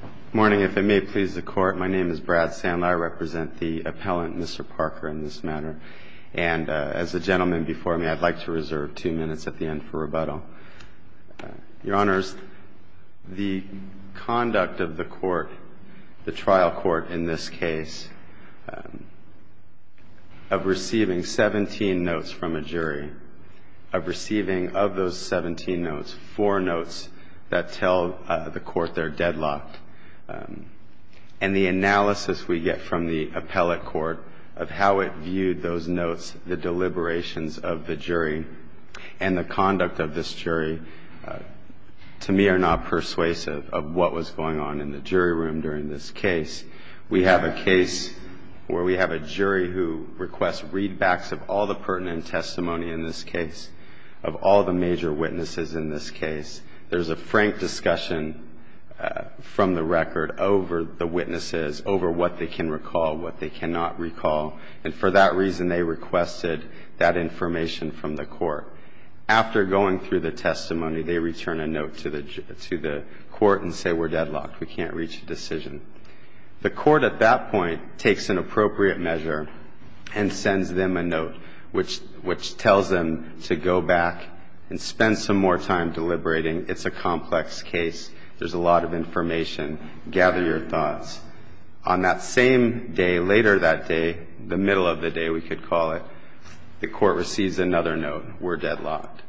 Good morning. If it may please the court, my name is Brad Sandler. I represent the appellant, Mr. Parker, in this matter. And as the gentleman before me, I'd like to reserve two minutes at the end for rebuttal. Your Honors, the conduct of the court, the trial court in this case, of receiving 17 notes from a jury, of receiving of those 17 notes, four notes that tell the court they're deadlocked, and the analysis we get from the appellate court of how it viewed those notes, the deliberations of the jury, and the conduct of this jury, to me, are not persuasive of what was going on in the jury room during this case. We have a case where we have a jury who requests readbacks of all the pertinent testimony in this case, of all the major witnesses in this case. There's a frank discussion from the record over the witnesses, over what they can recall, what they cannot recall. And for that reason, they requested that information from the court. After going through the testimony, they return a note to the court and say, we're deadlocked. We can't reach a decision. The court at that point takes an appropriate measure and sends them a note, which tells them to go back and spend some more time deliberating. It's a complex case. There's a lot of information. Gather your thoughts. On that same day, later that day, the middle of the day, we could call it, the court receives another note. We're deadlocked.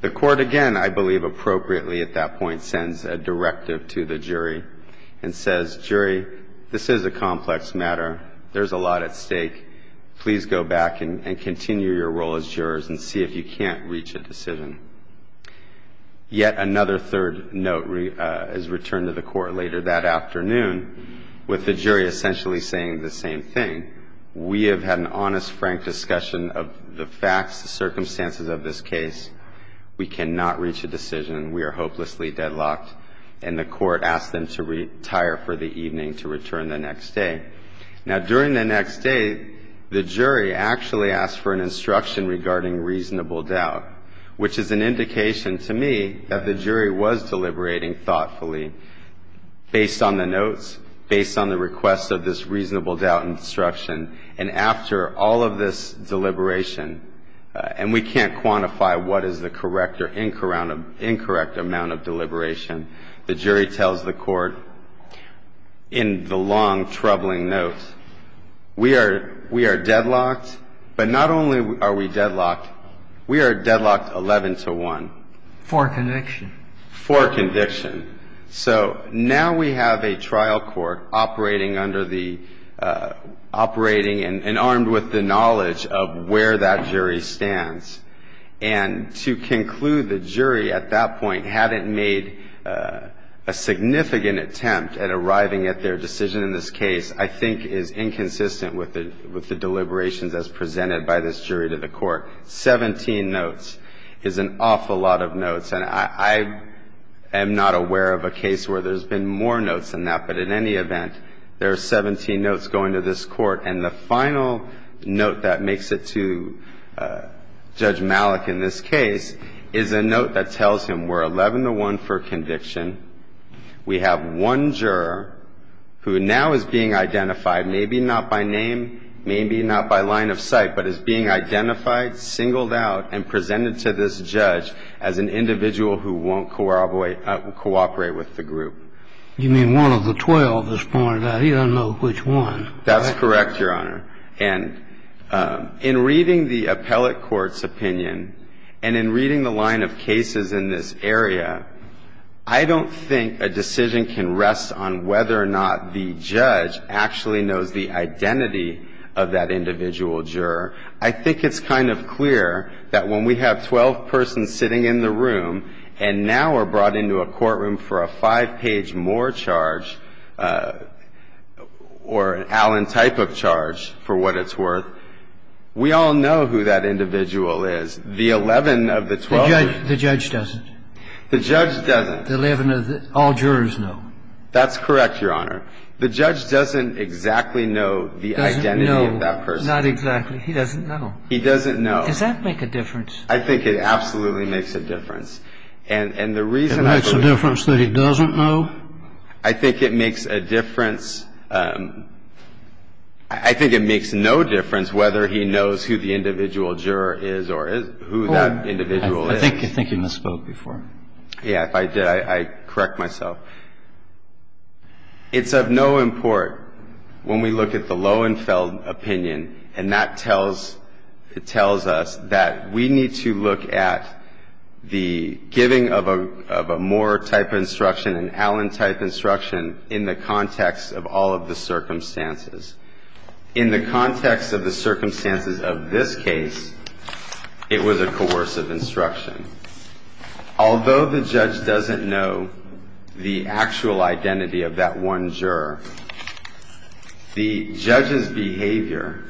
The court, again, I believe appropriately at that point, sends a directive to the jury and says, jury, this is a complex matter. There's a lot at stake. Please go back and continue your role as jurors and see if you can't reach a decision. Yet another third note is returned to the court later that afternoon with the jury essentially saying the same thing. We have had an honest, frank discussion of the facts, the circumstances of this case. We cannot reach a decision. We are hopelessly deadlocked. And the court asked them to retire for the evening to return the next day. Now, during the next day, the jury actually asked for an instruction regarding reasonable doubt, which is an indication to me that the jury was deliberating thoughtfully based on the notes, based on the request of this reasonable doubt instruction. And after all of this deliberation, and we can't quantify what is the correct or incorrect amount of deliberation, the jury tells the court in the long, troubling notes, we are deadlocked. But not only are we deadlocked, we are deadlocked 11 to 1. For conviction. For conviction. So now we have a trial court operating under the operating and armed with the knowledge of where that jury stands. And to conclude, the jury at that point hadn't made a significant attempt at arriving at their decision in this case, I think is inconsistent with the deliberations as presented by this jury to the court. 17 notes is an awful lot of notes. And I am not aware of a case where there's been more notes than that. But in any event, there are 17 notes going to this court. And the final note that makes it to Judge Malik in this case is a note that tells him we're 11 to 1 for conviction. We have one juror who now is being identified, maybe not by name, maybe not by line of sight, but is being identified, singled out, and presented to this judge as an individual who won't cooperate with the group. You mean one of the 12 that's pointed out? He doesn't know which one. That's correct, Your Honor. And in reading the appellate court's opinion and in reading the line of cases in this area, I don't think a decision can rest on whether or not the judge actually knows the identity of that individual juror. I think it's kind of clear that when we have 12 persons sitting in the room and now are brought into a courtroom for a five-page-more charge or an Allen-type of charge, for what it's worth, we all know who that individual is. The 11 of the 12. The judge doesn't? The judge doesn't. The 11 that all jurors know? That's correct, Your Honor. The judge doesn't exactly know the identity of that person. Doesn't know. Not exactly. He doesn't know. He doesn't know. Does that make a difference? I think it absolutely makes a difference. And the reason I believe that. It makes a difference that he doesn't know? I think it makes a difference. I think it makes no difference whether he knows who the individual juror is or who that individual is. I think you misspoke before. Yeah, if I did, I'd correct myself. It's of no import when we look at the Loewenfeld opinion, and that tells us that we need to look at the giving of a more-type instruction, an Allen-type instruction, in the context of all of the circumstances. In the context of the circumstances of this case, it was a coercive instruction. Although the judge doesn't know the actual identity of that one juror, the judge's behavior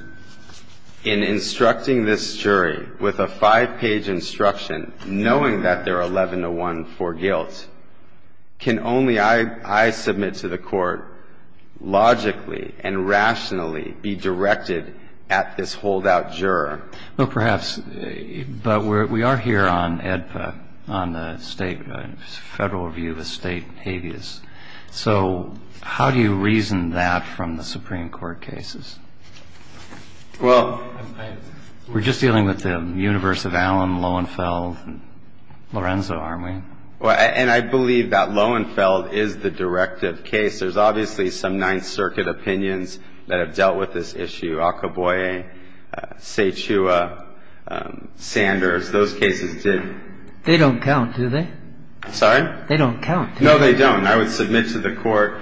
in instructing this jury with a five-page instruction, knowing that they're 11-to-1 for guilt, can only, I submit to the Court, logically and rationally be directed at this holdout juror. Well, perhaps. But we are here on AEDPA, on the federal view of a state habeas. So how do you reason that from the Supreme Court cases? Well, I... We're just dealing with the universe of Allen, Loewenfeld, Lorenzo, aren't we? And I believe that Loewenfeld is the directive case. There's obviously some Ninth Circuit opinions that have dealt with this issue. Alcaboye, Cechua, Sanders, those cases did. They don't count, do they? Sorry? They don't count. No, they don't. I would submit to the Court,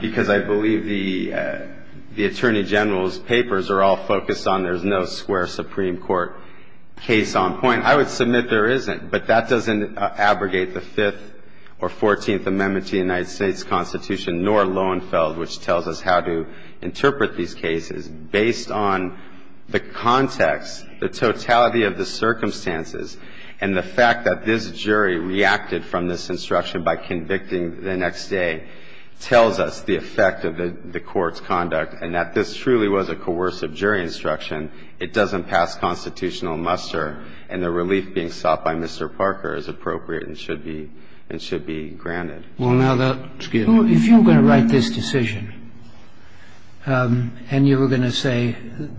because I believe the Attorney General's papers are all focused on there's no square Supreme Court case on point. I would submit there isn't. But that doesn't abrogate the Fifth or Fourteenth Amendment to the United States Constitution, nor Loewenfeld, which tells us how to interpret these cases based on the context, the totality of the circumstances, and the fact that this jury reacted from this instruction by convicting the next day tells us the effect of the Court's conduct and that this truly was a coercive jury instruction. It doesn't pass constitutional muster, and the relief being sought by Mr. Parker is appropriate and should be granted. Well, now, if you were going to write this decision and you were going to say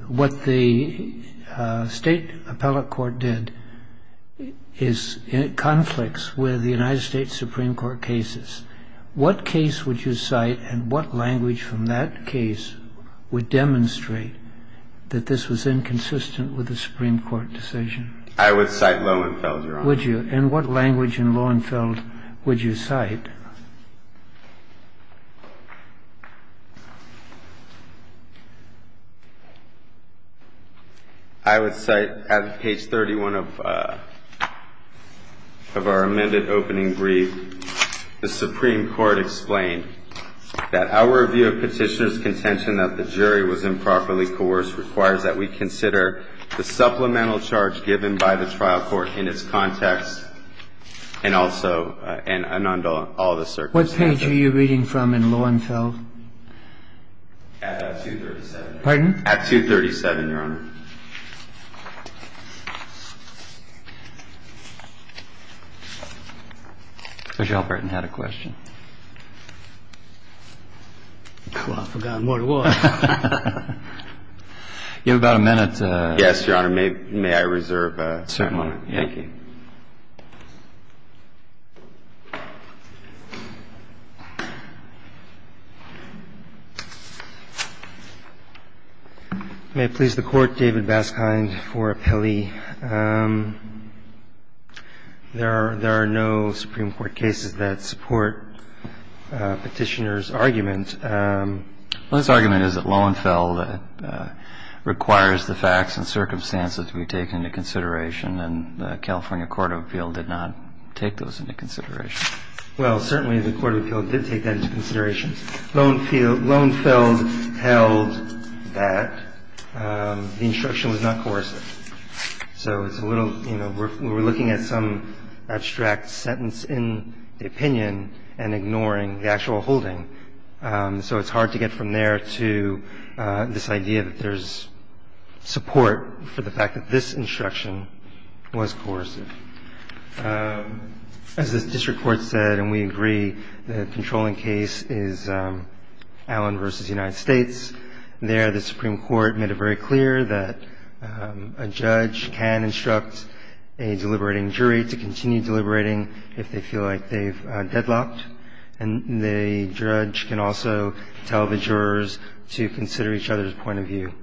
what the State Appellate Court did is conflicts with the United States Supreme Court cases, what case would you cite and what language from that case would demonstrate that this was inconsistent with the Supreme Court decision? I would cite Loewenfeld, Your Honor. Would you? And what language in Loewenfeld would you cite? I would cite at page 31 of our amended opening brief, the Supreme Court explained that our view of petitioner's contention that the jury was improperly coerced requires that we consider the supplemental charge given by the trial court in its context and also all the circumstances. What page are you reading from in Loewenfeld? At 237. Pardon? At 237, Your Honor. Rochelle Burton had a question. Oh, I forgot what it was. You have about a minute. Yes, Your Honor. May I reserve a moment? Certainly. Thank you. May I please the Court, David Baskind, for appellee? There are no Supreme Court cases that support petitioner's argument. Well, his argument is that Loewenfeld requires the facts and circumstances to be taken into consideration, and the California Court of Appeal did not take those into consideration. Well, certainly the Court of Appeal did take that into consideration. Loewenfeld held that the instruction was not coercive. So it's a little, you know, we're looking at some abstract sentence in the opinion and ignoring the actual holding. So it's hard to get from there to this idea that there's support for the fact that this instruction was coercive. As the district court said, and we agree, the controlling case is Allen v. United States. There, the Supreme Court made it very clear that a judge can instruct a deliberating jury to continue deliberating if they feel like they've deadlocked, and the judge can also tell the jurors to consider each other's point of view.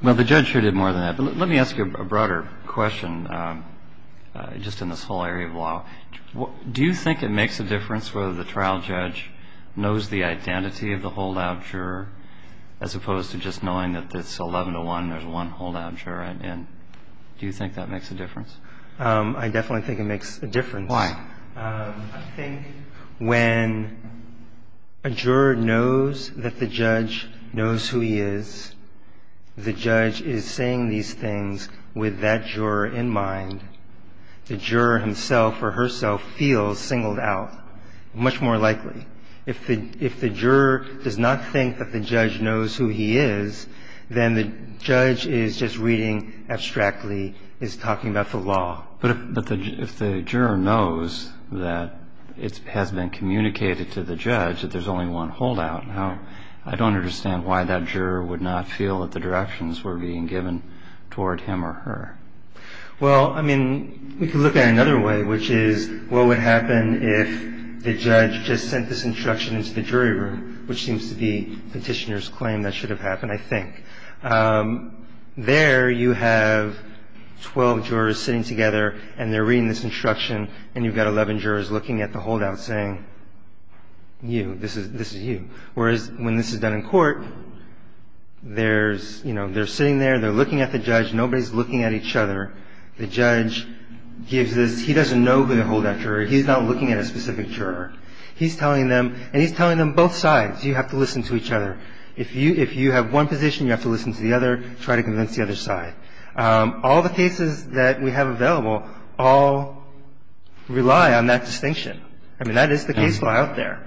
Well, the judge sure did more than that. But let me ask you a broader question, just in this whole area of law. Do you think it makes a difference whether the trial judge knows the identity of the holdout juror, as opposed to just knowing that it's 11 to 1, there's one holdout juror? And do you think that makes a difference? I definitely think it makes a difference. Why? I think when a juror knows that the judge knows who he is, the judge is saying these things with that juror in mind. The juror himself or herself feels singled out, much more likely. If the juror does not think that the judge knows who he is, then the judge is just reading abstractly, is talking about the law. But if the juror knows that it has been communicated to the judge that there's only one holdout, I don't understand why that juror would not feel that the directions were being given toward him or her. Well, I mean, we could look at it another way, which is, what would happen if the judge just sent this instruction into the jury room, which seems to be Petitioner's claim that should have happened, I think. There you have 12 jurors sitting together, and they're reading this instruction, and you've got 11 jurors looking at the holdout saying, you, this is you. Whereas when this is done in court, there's, you know, they're sitting there, they're looking at the judge, nobody's looking at each other, the judge gives this, he doesn't know who the holdout juror is, he's not looking at a specific juror. He's telling them, and he's telling them both sides, you have to listen to each other. If you have one position, you have to listen to the other, try to convince the other side. All the cases that we have available all rely on that distinction. I mean, that is the case law out there.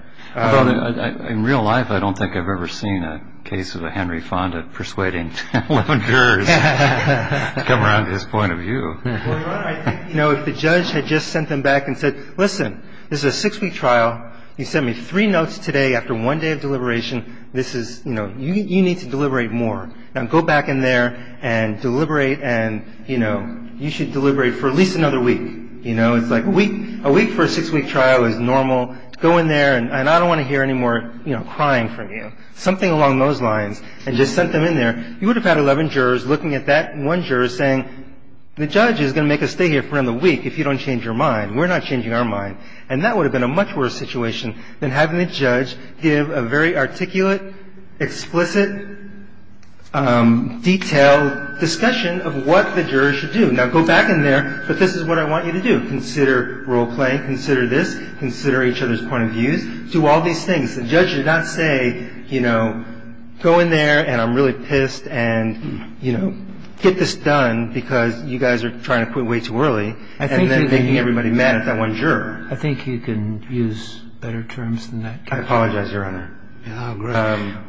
In real life, I don't think I've ever seen a case of a Henry Fonda persuading 11 jurors to come around to his point of view. Well, Your Honor, I think, you know, if the judge had just sent them back and said, listen, this is a six-week trial, you sent me three notes today after one day of deliberation, this is, you know, you need to deliberate more. Now go back in there and deliberate, and, you know, you should deliberate for at least another week. You know, it's like a week for a six-week trial is normal. Go in there, and I don't want to hear any more, you know, crying from you. Something along those lines, and just sent them in there. You would have had 11 jurors looking at that one juror saying, the judge is going to make us stay here for another week if you don't change your mind. We're not changing our mind. And that would have been a much worse situation than having a judge give a very articulate, explicit, detailed discussion of what the jurors should do. Now go back in there, but this is what I want you to do. I want you to consider role-playing. Consider this. Consider each other's point of views. Do all these things. The judge should not say, you know, go in there, and I'm really pissed, and, you know, get this done because you guys are trying to quit way too early, and then making everybody mad at that one juror. I think you can use better terms than that. I apologize, Your Honor.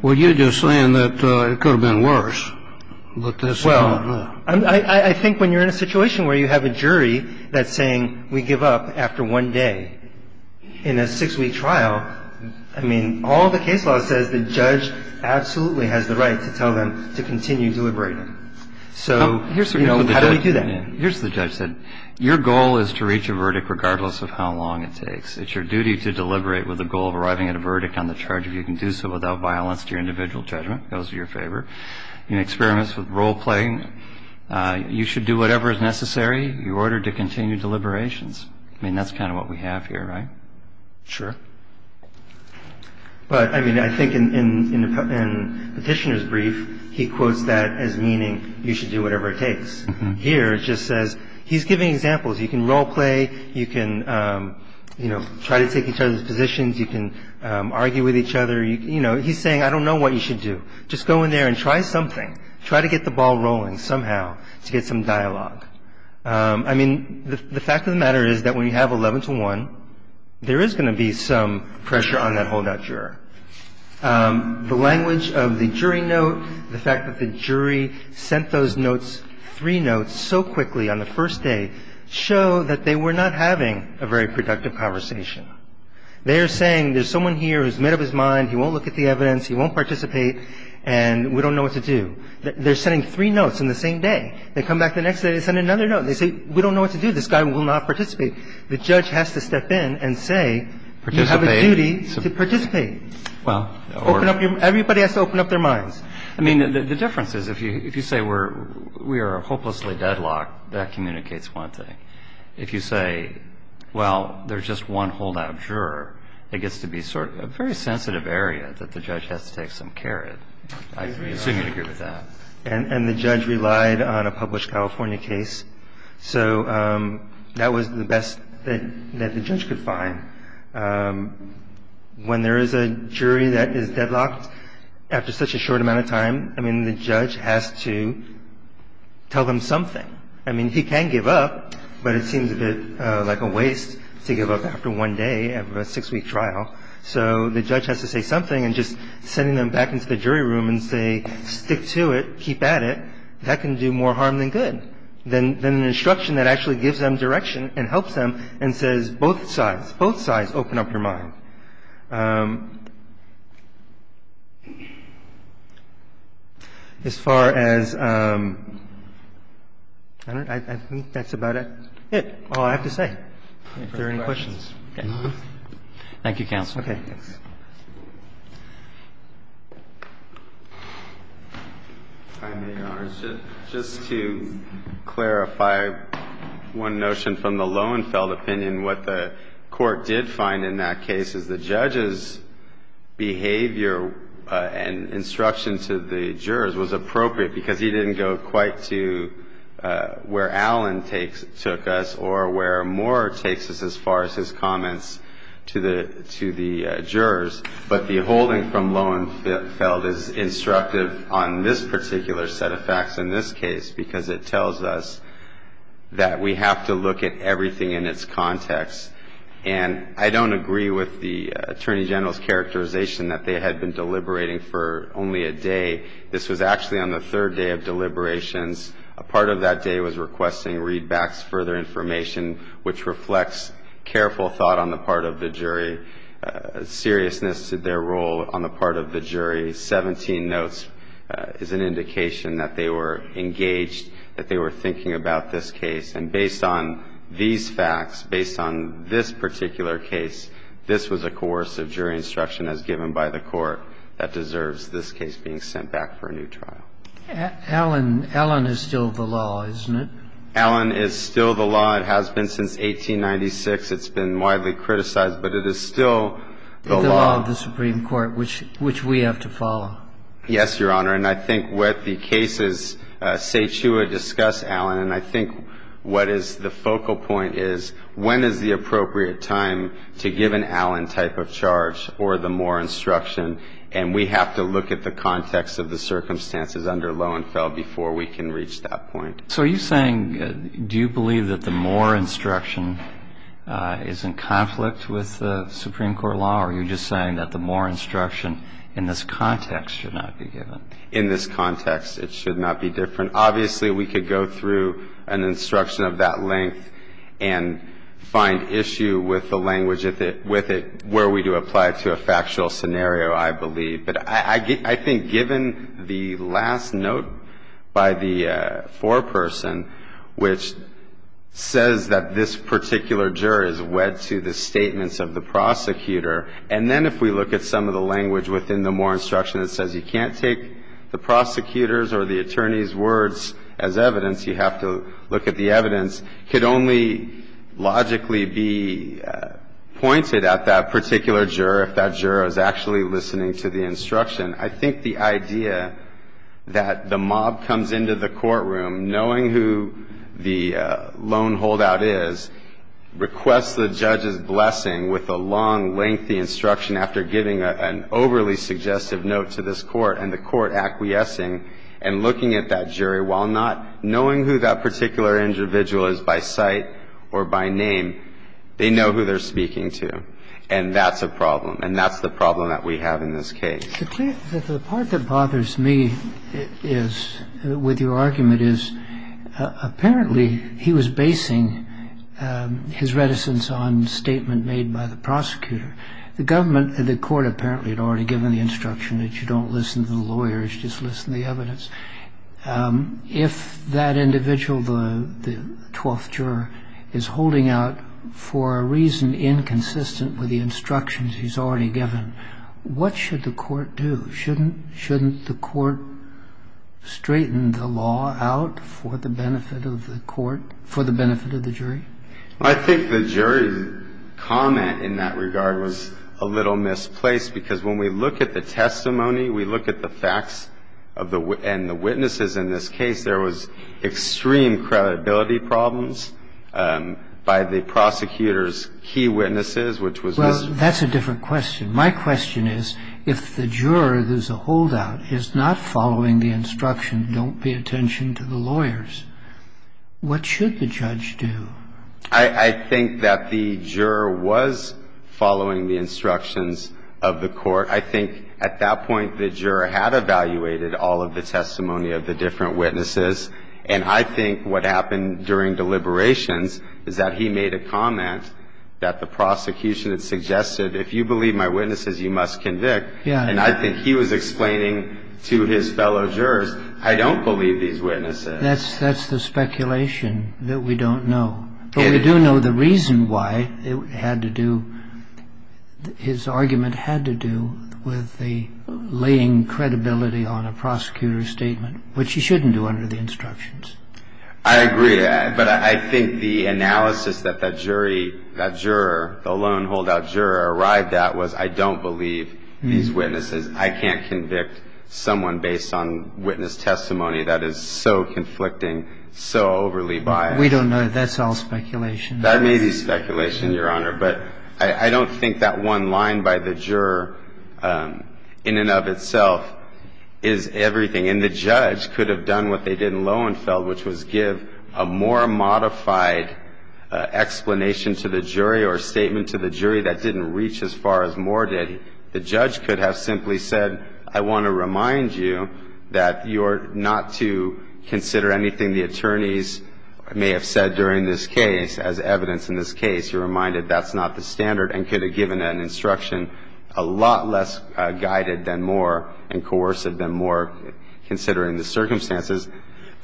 Well, you're just saying that it could have been worse. Well, I think when you're in a situation where you have a jury that's saying we give up after one day in a six-week trial, I mean, all the case law says the judge absolutely has the right to tell them to continue deliberating. So, you know, how do we do that? Here's what the judge said. Your goal is to reach a verdict regardless of how long it takes. It's your duty to deliberate with a goal of arriving at a verdict on the charge of you can do so without violence to your individual judgment. Those are your favor. In experiments with role-playing, you should do whatever is necessary in order to continue deliberations. I mean, that's kind of what we have here, right? Sure. But, I mean, I think in Petitioner's brief, he quotes that as meaning you should do whatever it takes. Here it just says he's giving examples. You can role-play. You can, you know, try to take each other's positions. You can argue with each other. You know, he's saying I don't know what you should do. Just go in there and try something. Try to get the ball rolling somehow to get some dialogue. I mean, the fact of the matter is that when you have 11-to-1, there is going to be some pressure on that holdout juror. The language of the jury note, the fact that the jury sent those notes, three notes, so quickly on the first day show that they were not having a very productive conversation. They are saying there's someone here who's made up his mind. He won't look at the evidence. He won't participate. And we don't know what to do. They're sending three notes in the same day. They come back the next day. They send another note. They say we don't know what to do. This guy will not participate. The judge has to step in and say you have a duty to participate. Everybody has to open up their minds. I mean, the difference is if you say we are hopelessly deadlocked, that communicates one thing. If you say, well, there's just one holdout juror, it gets to be sort of a very sensitive area that the judge has to take some care in. I assume you'd agree with that. And the judge relied on a published California case. So that was the best that the judge could find. When there is a jury that is deadlocked after such a short amount of time, I mean, the judge has to tell them something. I mean, he can give up, but it seems a bit like a waste to give up after one day of a six week trial. So the judge has to say something and just sending them back into the jury room and say, stick to it, keep at it. That can do more harm than good. Then an instruction that actually gives them direction and helps them and says both sides, both sides open up your mind. As far as I don't know, I think that's about it. That's all I have to say. If there are any questions. Thank you, counsel. Okay. Just to clarify one notion from the Lowenfeld opinion, what the court did find in that case is the judge's behavior and instruction to the jurors was appropriate because he didn't go quite to where Alan took us or where Moore takes us as far as his comments to the jurors. But the holding from Lowenfeld is instructive on this particular set of facts in this case because it tells us that we have to look at everything in its context. And I don't agree with the Attorney General's characterization that they had been deliberating for only a day. This was actually on the third day of deliberations. A part of that day was requesting readbacks, further information, which reflects careful thought on the part of the jury, seriousness of their role on the part of the jury. 17 notes is an indication that they were engaged, that they were thinking about this case. And based on these facts, based on this particular case, this was a coercive jury instruction as given by the court that deserves this case being sent back for a new trial. Alan is still the law, isn't it? Alan is still the law. It has been since 1896. It's been widely criticized, but it is still the law. The law of the Supreme Court, which we have to follow. Yes, Your Honor. And I think what the cases say to discuss, Alan, and I think what is the focal point is when is the appropriate time to give an Alan type of charge or the Moore instruction. And we have to look at the context of the circumstances under Lowenfeld before we can reach that point. So are you saying, do you believe that the Moore instruction is in conflict with the Supreme Court law, or are you just saying that the Moore instruction in this context should not be given? In this context, it should not be different. Obviously, we could go through an instruction of that length and find issue with the language with it where we do apply it to a factual scenario, I believe. But I think given the last note by the foreperson which says that this particular juror is wed to the statements of the prosecutor, and then if we look at some of the language within the Moore instruction that says you can't take the prosecutor's or the attorney's words as evidence, you have to look at the evidence, could only logically be pointed at that particular juror if that juror is actually listening to the instruction. I think the idea that the mob comes into the courtroom knowing who the lone holdout is, requests the judge's blessing with a long, lengthy instruction after giving an overly suggestive note to this court, and the court acquiescing and looking at that jury while not knowing who that particular individual is by sight or by name, they know who they're speaking to. And that's a problem. And that's the problem that we have in this case. The part that bothers me is, with your argument, is apparently he was basing his reticence on statement made by the prosecutor. The government, the court apparently had already given the instruction that you don't listen to the lawyers, just listen to the evidence. If that individual, the twelfth juror, is holding out for a reason inconsistent with the instructions he's already given, what should the court do? Shouldn't the court straighten the law out for the benefit of the court, for the benefit of the jury? I think the jury's comment in that regard was a little misplaced, because when we look at the testimony, we look at the facts and the witnesses. In this case, there was extreme credibility problems by the prosecutor's key witnesses, which was this. Well, that's a different question. My question is, if the juror who's a holdout is not following the instruction, don't pay attention to the lawyers, what should the judge do? I think that the juror was following the instructions of the court. I think at that point, the juror had evaluated all of the testimony of the different witnesses. And I think what happened during deliberations is that he made a comment that the prosecution had suggested, if you believe my witnesses, you must convict. And I think he was explaining to his fellow jurors, I don't believe these witnesses. That's the speculation that we don't know. But we do know the reason why it had to do, his argument had to do with the laying credibility on a prosecutor's statement, which you shouldn't do under the instructions. I agree. But I think the analysis that that jury, that juror, the lone holdout juror, arrived at was, I don't believe these witnesses. I can't convict someone based on witness testimony that is so conflicting, so overly biased. We don't know. That's all speculation. That may be speculation, Your Honor. But I don't think that one line by the juror in and of itself is everything. And the judge could have done what they did in Lowenfeld, which was give a more modified explanation to the jury or statement to the jury that didn't reach as far as Moore did. The judge could have simply said, I want to remind you that you're not to consider anything the attorneys may have said during this case as evidence in this case. You're reminded that's not the standard and could have given an instruction a lot less guided than Moore and coercive than Moore, considering the circumstances.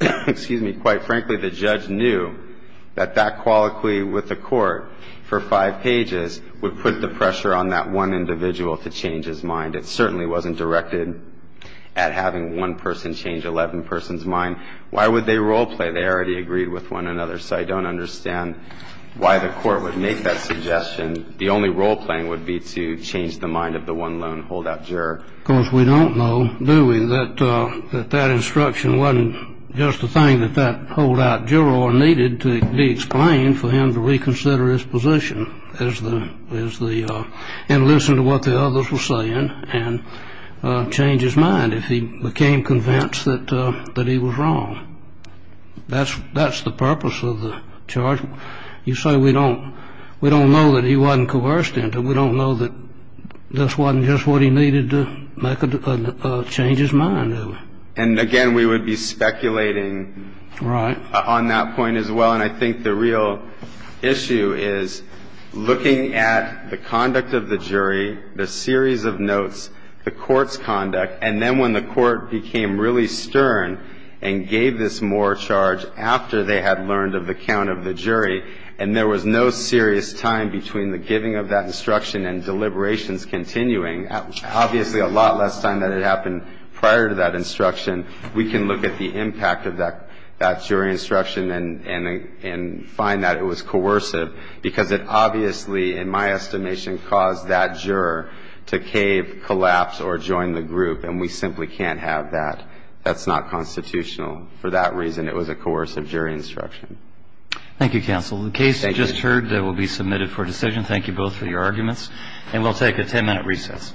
Excuse me. I don't understand why the court would make that suggestion. Quite frankly, the judge knew that that colloquy with the court for five pages would put the pressure on that one individual to change his mind. It certainly wasn't directed at having one person change 11 persons' mind. Why would they role play? They already agreed with one another. So I don't understand why the court would make that suggestion. The only role playing would be to change the mind of the one lone holdout juror. Of course, we don't know, do we, that that instruction wasn't just a thing that that holdout juror needed to be explained for him to reconsider his position and listen to what the others were saying and change his mind if he became convinced that he was wrong. That's the purpose of the charge. You say we don't know that he wasn't coerced into it. We don't know that this wasn't just what he needed to make a change his mind. And again, we would be speculating on that point as well. And I think the real issue is looking at the conduct of the jury, the series of notes, the court's conduct, and then when the court became really stern and gave this Moore charge after they had learned of the count of the jury and there was no serious time between the giving of that instruction and deliberations continuing, obviously a lot less time than had happened prior to that instruction, we can look at the impact of that jury instruction and find that it was coercive because it obviously, in my estimation, caused that juror to cave, collapse, or join the group, and we simply can't have that. That's not constitutional. For that reason, it was a coercive jury instruction. Thank you, counsel. The case just heard will be submitted for decision. Thank you both for your arguments. And we'll take a ten-minute recess.